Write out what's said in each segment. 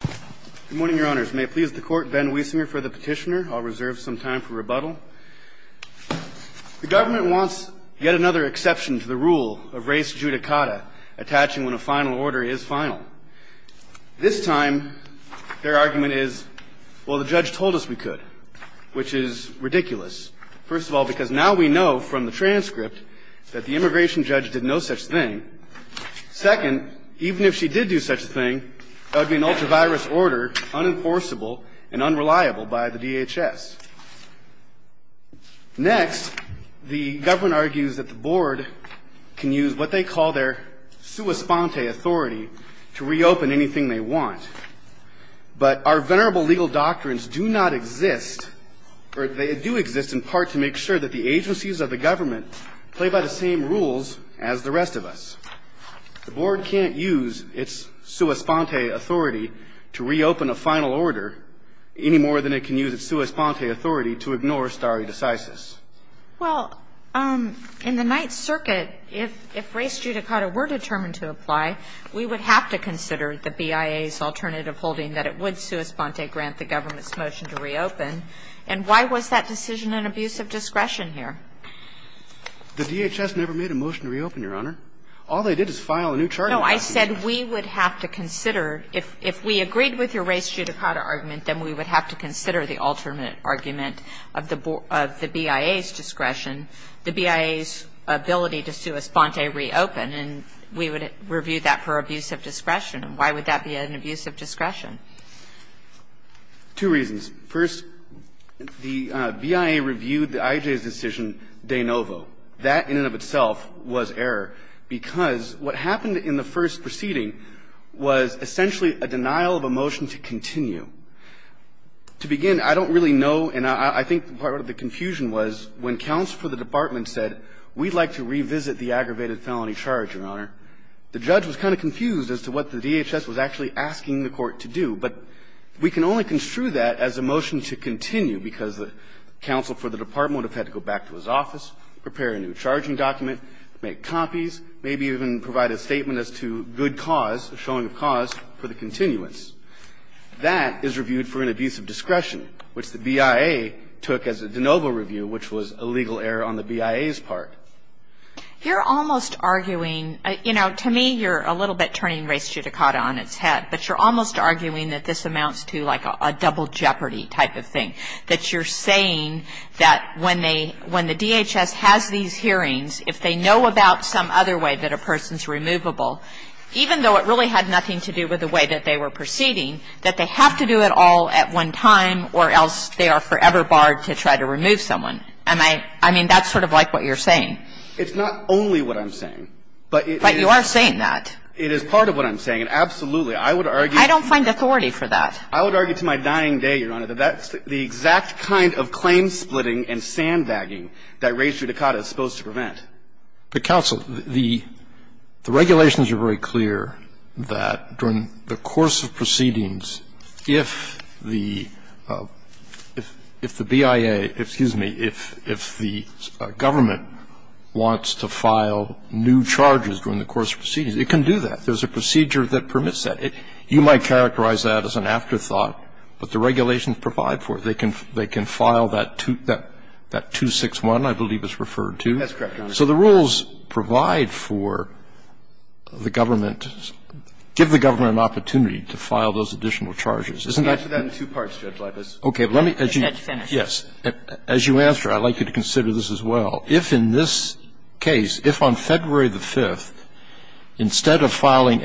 Good morning, Your Honors. May it please the Court, Ben Wiesinger for the Petitioner. I'll reserve some time for rebuttal. The government wants yet another exception to the rule of res judicata, attaching when a final order is final. This time, their argument is, well, the judge told us we could, which is ridiculous. First of all, because now we know from the transcript that the immigration judge did no such thing. Second, even if she did do such a thing, that would be an ultra-virus order, unenforceable and unreliable by the DHS. Next, the government argues that the board can use what they call their sua sponte authority to reopen anything they want. But our venerable legal doctrines do not exist, or they do exist in part to make sure that the agencies of the government play by the same rules as the rest of us. The board can't use its sua sponte authority to reopen a final order any more than it can use its sua sponte authority to ignore stare decisis. Well, in the Ninth Circuit, if res judicata were determined to apply, we would have to consider the BIA's alternative holding that it would sua sponte grant the government's motion to reopen. And why was that decision an abuse of discretion here? The DHS never made a motion to reopen, Your Honor. All they did is file a new charge in the lawsuit. No. I said we would have to consider, if we agreed with your res judicata argument, then we would have to consider the alternate argument of the BIA's discretion, the BIA's ability to sua sponte reopen, and we would review that for abuse of discretion. And why would that be an abuse of discretion? Two reasons. First, the BIA reviewed the IJA's decision to grant the government's motion to reopen De Novo. That, in and of itself, was error, because what happened in the first proceeding was essentially a denial of a motion to continue. To begin, I don't really know, and I think part of the confusion was, when counsel for the department said, we'd like to revisit the aggravated felony charge, Your Honor, the judge was kind of confused as to what the DHS was actually asking the court to do. But we can only construe that as a motion to continue, because the counsel for the department would have had to go back to his office, prepare a new charging document, make copies, maybe even provide a statement as to good cause, a showing of cause for the continuance. That is reviewed for an abuse of discretion, which the BIA took as a De Novo review, which was a legal error on the BIA's part. You're almost arguing, you know, to me, you're a little bit turning res judicata on its head, but you're almost arguing that this amounts to, like, a double jeopardy type of thing, that you're saying that when they – when the DHS has these hearings, if they know about some other way that a person's removable, even though it really had nothing to do with the way that they were proceeding, that they have to do it all at one time, or else they are forever barred to try to remove someone. Am I – I mean, that's sort of like what you're saying. It's not only what I'm saying. But you are saying that. It is part of what I'm saying, and absolutely, I would argue to my dying day, Your Honor, that that's the exact kind of claim-splitting and sandbagging that res judicata is supposed to prevent. But, counsel, the regulations are very clear that during the course of proceedings, if the BIA – excuse me, if the government wants to file new charges during the course of proceedings, it can do that. There's a procedure that permits that. You might characterize that as an afterthought, but the regulations provide for it. They can file that 261, I believe it's referred to. That's correct, Your Honor. So the rules provide for the government – give the government an opportunity to file those additional charges. Isn't that correct? I put that in two parts, Judge Leibitz. Okay. Let me, as you – Judge Finner. Yes. As you answer, I'd like you to consider this as well. If in this case, if on February the 5th, instead of filing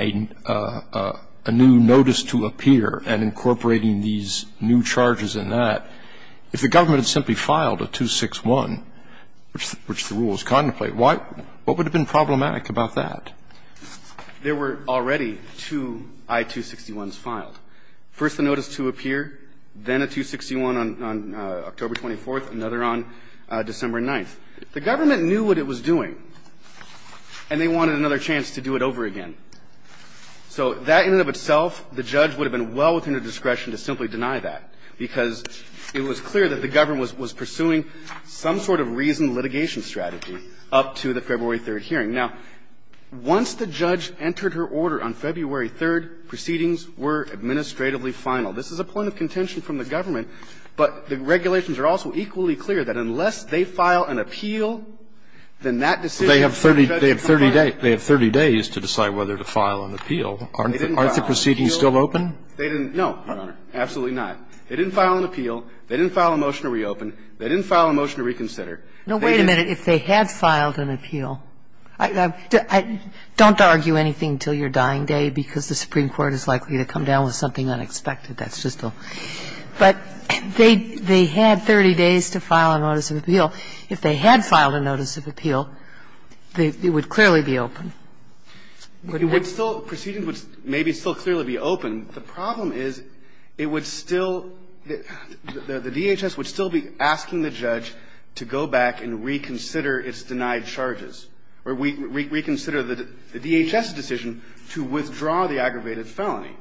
a new notice to appear and incorporating these new charges in that, if the government had simply filed a 261, which the rules contemplate, what would have been problematic about that? There were already two I-261s filed, first a notice to appear, then a 261 on October 24th, another on December 9th. The government knew what it was doing, and they wanted another chance to do it over again. So that in and of itself, the judge would have been well within their discretion to simply deny that, because it was clear that the government was pursuing some sort of reasoned litigation strategy up to the February 3rd hearing. Now, once the judge entered her order on February 3rd, proceedings were administratively final. This is a point of contention from the government, but the regulations are also equally clear that unless they file an appeal, then that decision would have been final. They have 30 days to decide whether to file an appeal. Aren't the proceedings still open? No, Your Honor. Absolutely not. They didn't file an appeal. They didn't file a motion to reopen. They didn't file a motion to reconsider. No, wait a minute. If they had filed an appeal, don't argue anything until your dying day, because the Supreme Court is likely to come down with something unexpected. That's just a --" but they had 30 days to file a notice of appeal. If they had filed a notice of appeal, it would clearly be open, wouldn't it? It would still – proceedings would maybe still clearly be open. The problem is, it would still – the DHS would still be asking the judge to go back and reconsider its denied charges, or reconsider the DHS's decision to withdraw the aggravated felony.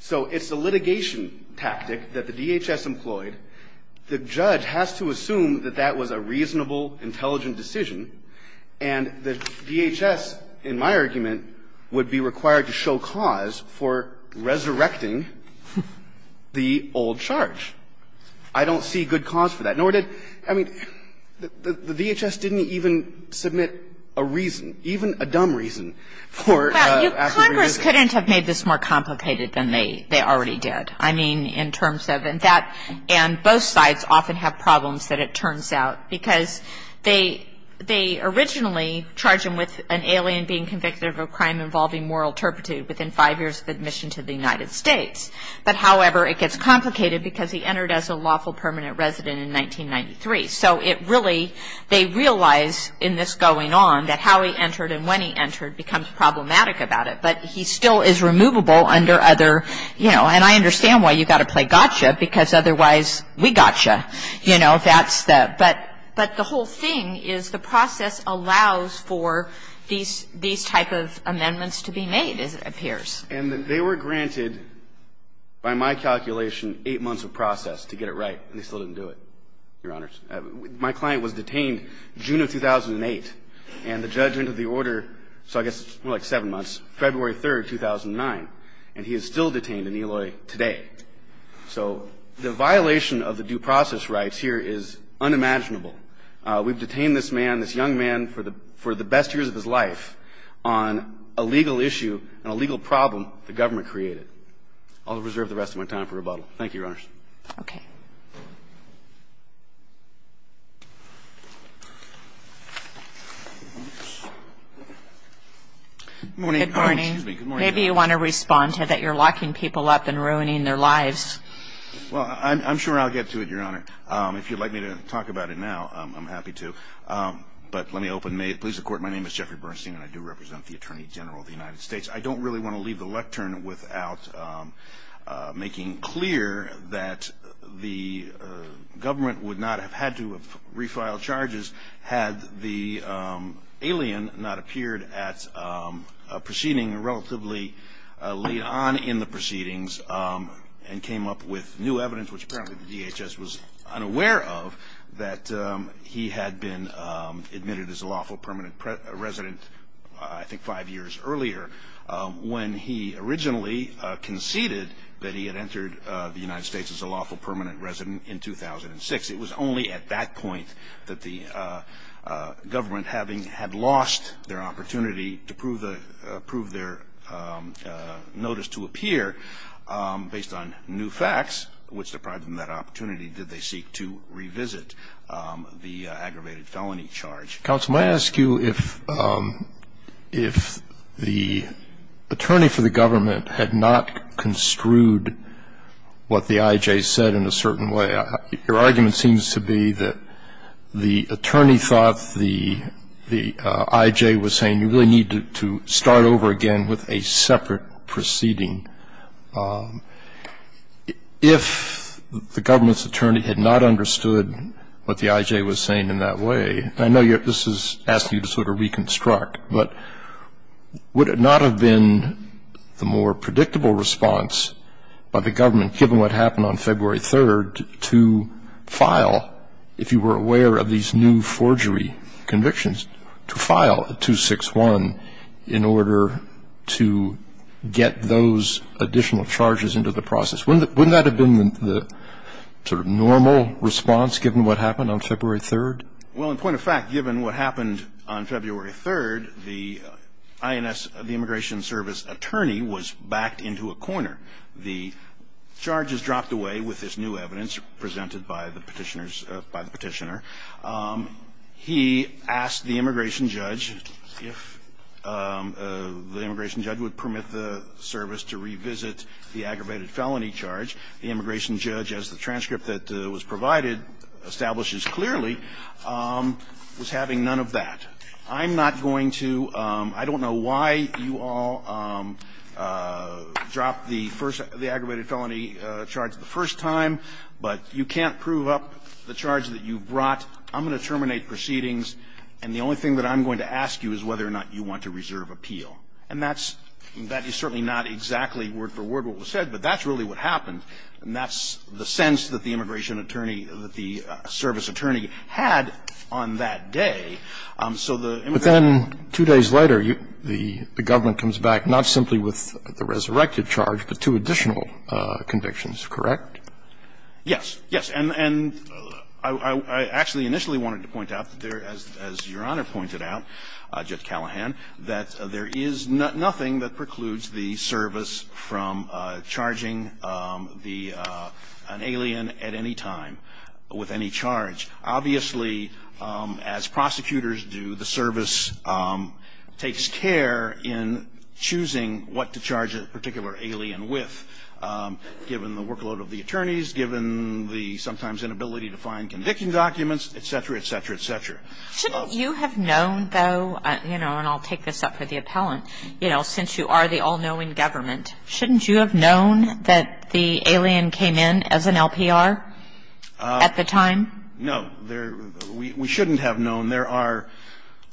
So it's a litigation tactic that the DHS employed. The judge has to assume that that was a reasonable, intelligent decision, and the DHS, in my argument, would be required to show cause for resurrecting the old charge. I don't see good cause for that. Nor did – I mean, the DHS didn't even submit a reason, even a dumb reason, for the aggravated felony. Congress couldn't have made this more complicated than they already did. I mean, in terms of – and that – and both sides often have problems that it turns out, because they originally charge him with an alien being convicted of a crime involving moral turpitude within five years of admission to the United States. But however, it gets complicated, because he entered as a lawful permanent resident in 1993. So it really – they realize in this going on that how he entered and when he entered becomes problematic about it, but he still is removable under other – you know, and I understand why you've got to play gotcha, because otherwise, we gotcha. You know, that's the – but the whole thing is the process allows for these – these type of amendments to be made, as it appears. And they were granted, by my calculation, eight months of process to get it right, and they still didn't do it, Your Honors. My client was detained June of 2008, and the judge entered the order, so I guess more like seven months, February 3, 2009, and he is still detained in Eloy today. So the violation of the due process rights here is unimaginable. We've detained this man, this young man, for the – for the best years of his life on a legal issue and a legal problem the government created. I'll reserve the rest of my time for rebuttal. Thank you, Your Honors. Okay. Good morning. Good morning. Excuse me. Good morning. Maybe you want to respond to that you're locking people up and ruining their lives. Well, I'm sure I'll get to it, Your Honor. If you'd like me to talk about it now, I'm happy to. But let me open – may it please the Court, my name is Jeffrey Bernstein, and I do represent the Attorney General of the United States. I don't really want to leave the lectern without making clear that the government would not have had to have refiled charges had the alien not appeared at a proceeding relatively late on in the proceedings and came up with new evidence, which apparently the DHS was unaware of, that he had been admitted as a lawful permanent resident, I think, five years earlier when he originally conceded that he had entered the United States as a lawful permanent resident in 2006. It was only at that point that the government, having had lost their opportunity to prove their notice to appear, based on new facts which deprived them that opportunity, did they seek to revisit the aggravated felony charge. Counsel, may I ask you if the attorney for the government had not construed what the I.J. said in a certain way? Your argument seems to be that the attorney thought the I.J. was saying you really need to start over again with a separate proceeding. If the government's attorney had not understood what the I.J. was saying in that way, I know this is asking you to sort of reconstruct, but would it not have been the more predictable response by the government, given what happened on February 3rd, to file, if you were aware of these new forgery convictions, to file a 261 in order to get those additional charges into the process? Wouldn't that have been the sort of normal response, given what happened on February 3rd? Well, in point of fact, given what happened on February 3rd, the I.N.S., the Immigration Service attorney, was backed into a corner. The charges dropped away with this new evidence presented by the Petitioner. He asked the immigration judge if the immigration judge would permit the service to revisit the aggravated felony charge. The immigration judge, as the transcript that was provided, establishes clearly was having none of that. I'm not going to – I don't know why you all dropped the first – the aggravated felony charge the first time, but you can't prove up the charge that you brought. I'm going to terminate proceedings, and the only thing that I'm going to ask you is whether or not you want to reserve appeal. And that's – that is certainly not exactly word-for-word what was said, but that's really what happened. And that's the sense that the immigration attorney – that the service attorney had on that day. So the immigration – But then two days later, the government comes back, not simply with the resurrected charge, but two additional convictions, correct? Yes. Yes. And I actually initially wanted to point out that there, as Your Honor pointed out, Judge Callahan, that there is nothing that precludes the service from charging the – an alien at any time with any charge. Obviously, as prosecutors do, the service takes care in choosing what to charge a particular alien with, given the workload of the attorneys, given the sometimes inability to find conviction documents, et cetera, et cetera, et cetera. Shouldn't you have known, though – you know, and I'll take this up for the appellant – you know, since you are the all-knowing government, shouldn't you have known that the alien came in as an LPR at the time? No. There – we shouldn't have known. There are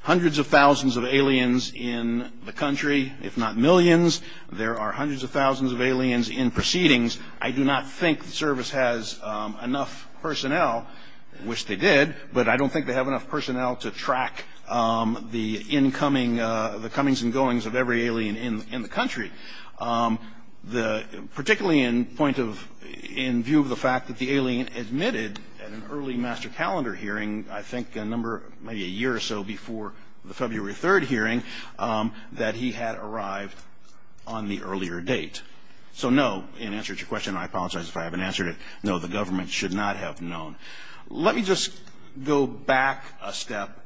hundreds of thousands of aliens in the country, if not millions. There are hundreds of thousands of aliens in proceedings. I do not think the service has enough personnel, which they did, but I don't think they have enough personnel to track the incoming – the comings and goings of every alien in the country. The – particularly in point of – in view of the fact that the alien admitted at an early master calendar hearing, I think a number – maybe a year or so before the February 3rd hearing, that he had arrived on the earlier date. So no, in answer to your question – and I apologize if I haven't answered it – no, the government should not have known. Let me just go back a step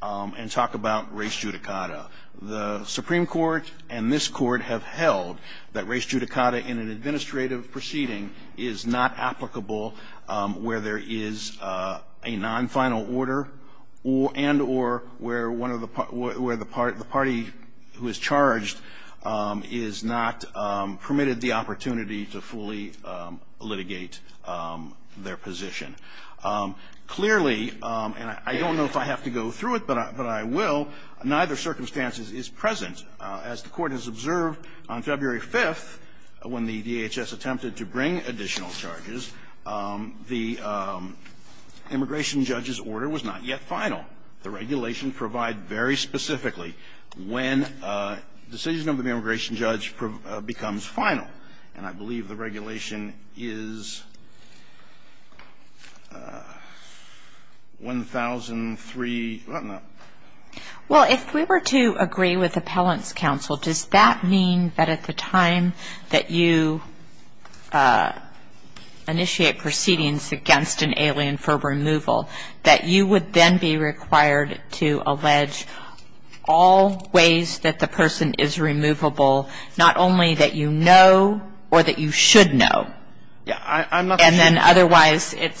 and talk about res judicata. The Supreme Court and this Court have held that res judicata in an administrative proceeding is not applicable where there is a non-final order and or where one of the – where the party who is charged is not permitted the opportunity to fully litigate their position. Clearly – and I don't know if I have to go through it, but I will – neither circumstance is present. As the Court has observed, on February 5th, when the DHS attempted to bring additional charges, the immigration judge's order was not yet final. The regulation provides very specifically when a decision of the immigration judge becomes final. And I believe the regulation is 1003 – well, no. Well, if we were to agree with appellant's counsel, does that mean that at the time that you initiate proceedings against an alien for removal, that you would then be required to allege all ways that the person is removable, not only that you know or that you should know? Yeah, I'm not – And then otherwise, it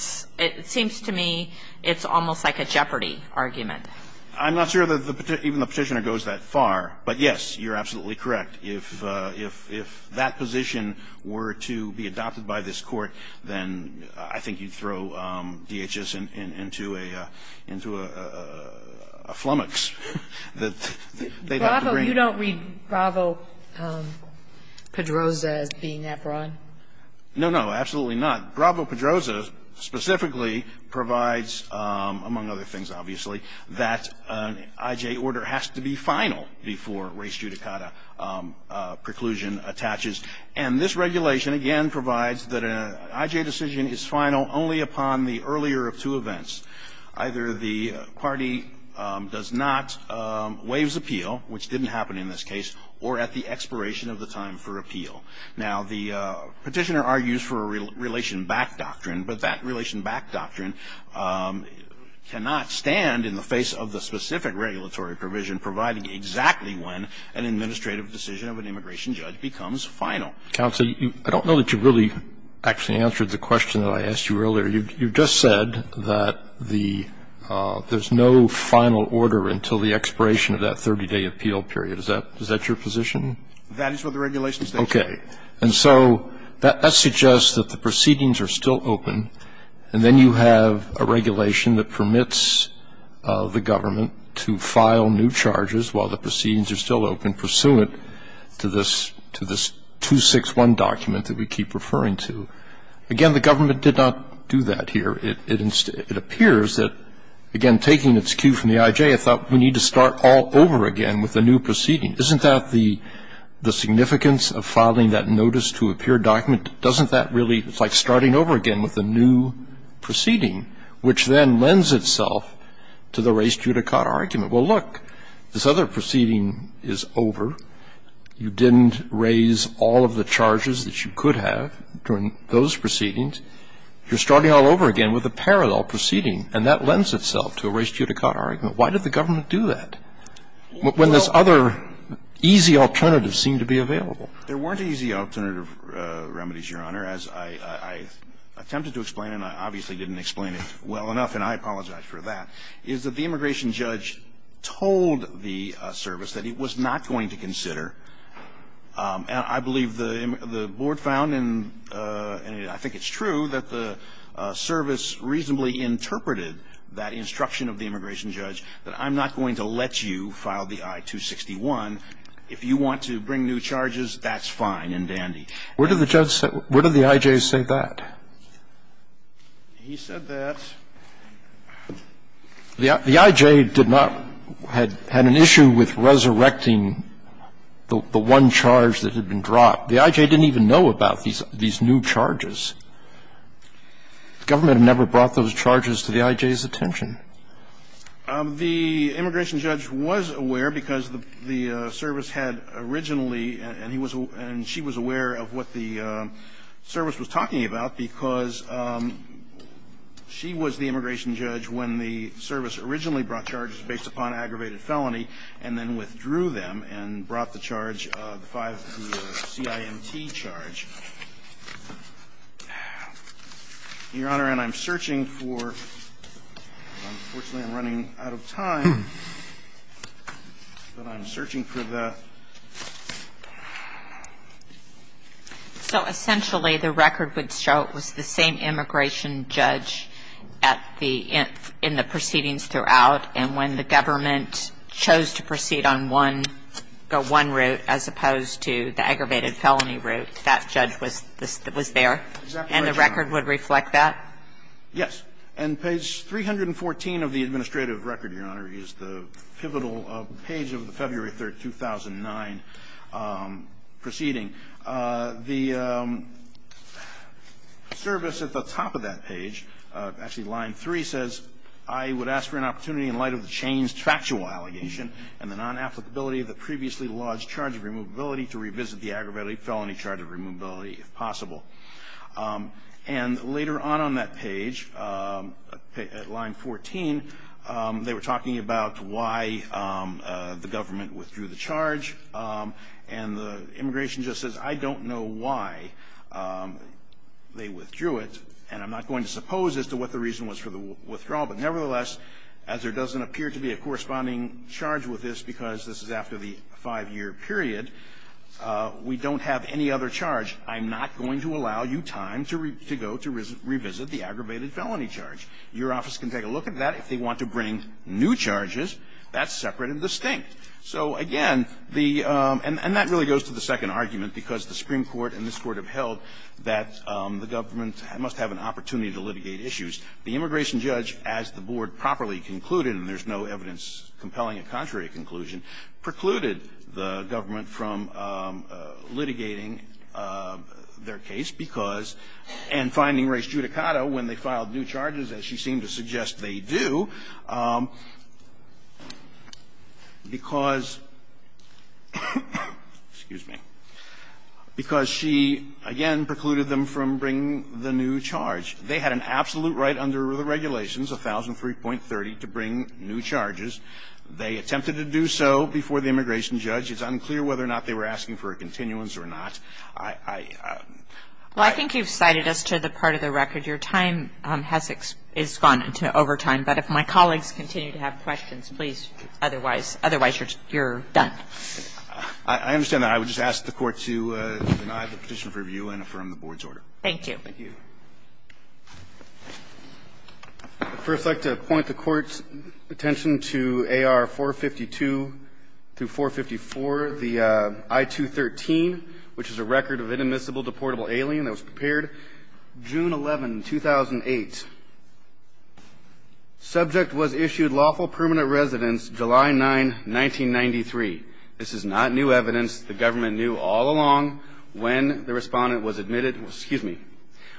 seems to me it's almost like a jeopardy argument. I'm not sure that even the petitioner goes that far. But yes, you're absolutely correct. If that position were to be adopted by this Court, then I think you'd throw DHS into a flummox that they'd have to bring. You don't read Bravo-Pedroza as being that broad? No, no. Absolutely not. Bravo-Pedroza specifically provides, among other things, obviously, that an IJ order has to be final before race judicata preclusion attaches. And this regulation, again, provides that an IJ decision is final only upon the earlier of two events. Either the party does not waives appeal, which didn't happen in this case, or at the expiration of the time for appeal. Now, the petitioner argues for a relation-back doctrine, but that relation-back doctrine cannot stand in the face of the specific regulatory provision providing exactly when an administrative decision of an immigration judge becomes final. Counsel, I don't know that you really actually answered the question that I asked you earlier. You just said that there's no final order until the expiration of that 30-day appeal period. Is that your position? That is what the regulation states. Okay. And so that suggests that the proceedings are still open, and then you have a regulation that permits the government to file new charges while the proceedings are still open pursuant to this 261 document that we keep referring to. Again, the government did not do that here. It appears that, again, taking its cue from the IJ, I thought we need to start all over again with a new proceeding. Isn't that the significance of filing that notice-to-appear document? Doesn't that really, it's like starting over again with a new proceeding, which then lends itself to the res judicata argument. Well, look, this other proceeding is over. You didn't raise all of the charges that you could have during those proceedings. You're starting all over again with a parallel proceeding, and that lends itself to a res judicata argument. Why did the government do that? When this other easy alternative seemed to be available. There weren't easy alternative remedies, Your Honor. As I attempted to explain, and I obviously didn't explain it well enough, and I apologize for that, is that the immigration judge told the service that it was not going to consider, and I believe the board found, and I think it's true, that the service reasonably interpreted that instruction of the immigration judge that I'm not going to let you file the I-261. If you want to bring new charges, that's fine and dandy. Where did the judge say, where did the I.J. say that? He said that the I.J. did not, had an issue with resurrecting the one charge that had been dropped. The I.J. didn't even know about these new charges. The government never brought those charges to the I.J.'s attention. The immigration judge was aware because the service had originally, and he was, and she was aware of what the service was talking about because she was the immigration judge when the service originally brought charges based upon aggravated felony and then withdrew them and brought the charge, the CIMT charge. Your Honor, and I'm searching for, unfortunately, I'm running out of time, but I'm searching for the... So essentially, the record would show it was the same immigration judge at the, in the proceedings throughout, and when the government chose to proceed on one, go one route as opposed to the aggravated felony route, that judge withdrew the charge. And the record would reflect that? Yes. And page 314 of the administrative record, Your Honor, is the pivotal page of the February 3, 2009 proceeding. The service at the top of that page, actually line 3, says, I would ask for an opportunity in light of the changed factual allegation and the non-applicability of the previously lodged charge of removability to revisit the aggravated felony charge of removability if possible. And later on on that page, at line 14, they were talking about why the government withdrew the charge, and the immigration judge says, I don't know why they withdrew it, and I'm not going to suppose as to what the reason was for the withdrawal, but nevertheless, as there doesn't appear to be a corresponding charge with this because this is after the five-year period, we don't have any other charge. I'm not going to allow you time to go to revisit the aggravated felony charge. Your office can take a look at that if they want to bring new charges. That's separate and distinct. So, again, the, and that really goes to the second argument, because the Supreme Court and this Court have held that the government must have an opportunity to litigate issues. The immigration judge, as the Board properly concluded, and there's no evidence compelling a contrary conclusion, precluded the government from litigating their case because, and finding race judicata when they filed new charges, as she seemed to suggest they do, because, excuse me, because she, again, precluded them from bringing the new charge. They had an absolute right under the regulations, 1003.30, to bring new charges. They attempted to do so before the immigration judge. It's unclear whether or not they were asking for a continuance or not. I, I, I. Well, I think you've cited us to the part of the record. Your time has, is gone into overtime. But if my colleagues continue to have questions, please, otherwise, otherwise you're done. I understand that. I would just ask the Court to deny the petition for review and affirm the Board's Thank you. First, I'd like to point the Court's attention to AR 452-454, the I-213, which is a record of inadmissible deportable alien that was prepared June 11, 2008. Subject was issued lawful permanent residence July 9, 1993. This is not new evidence. The government knew all along when the respondent was admitted, excuse me,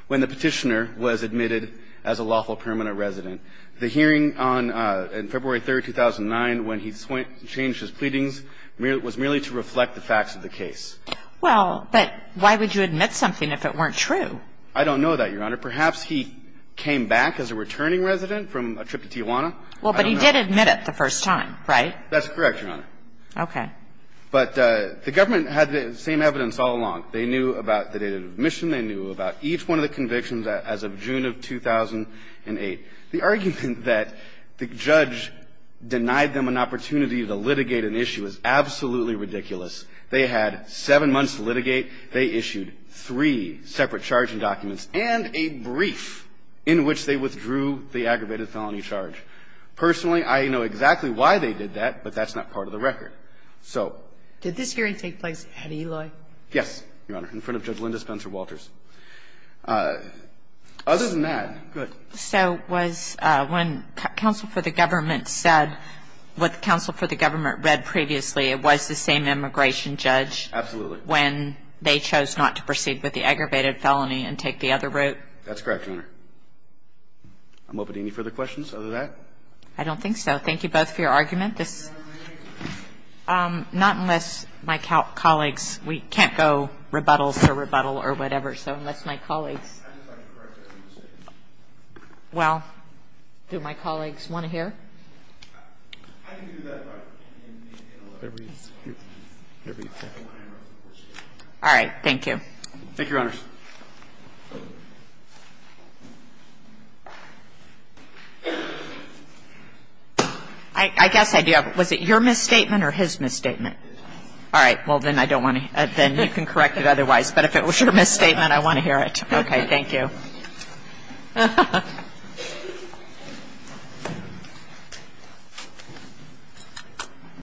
when the petitioner was admitted as a lawful permanent resident. The hearing on, on February 3, 2009 when he switched, changed his pleadings was merely to reflect the facts of the case. Well, but why would you admit something if it weren't true? I don't know that, Your Honor. Perhaps he came back as a returning resident from a trip to Tijuana. Well, but he did admit it the first time, right? That's correct, Your Honor. Okay. But the government had the same evidence all along. They knew about the date of admission. They knew about each one of the convictions as of June of 2008. The argument that the judge denied them an opportunity to litigate an issue is absolutely ridiculous. They had seven months to litigate. They issued three separate charging documents and a brief in which they withdrew the aggravated felony charge. Personally, I know exactly why they did that, but that's not part of the record. Yes, Your Honor. In front of Judge Linda Spencer Walters. Other than that, go ahead. So was when counsel for the government said what counsel for the government read previously, it was the same immigration judge when they chose not to proceed with the aggravated felony and take the other route? That's correct, Your Honor. I'm open to any further questions other than that. I don't think so. Thank you both for your argument. Not unless my colleagues. We can't go rebuttal to rebuttal or whatever. So unless my colleagues. Well, do my colleagues want to hear? Thank you. Thank you, Your Honor. I guess I do have what was it your misstatement or his misstatement. All right. Well then I don't want to then you can correct it otherwise but if it was your misstatement I want to hear it. Okay. Thank you. Right.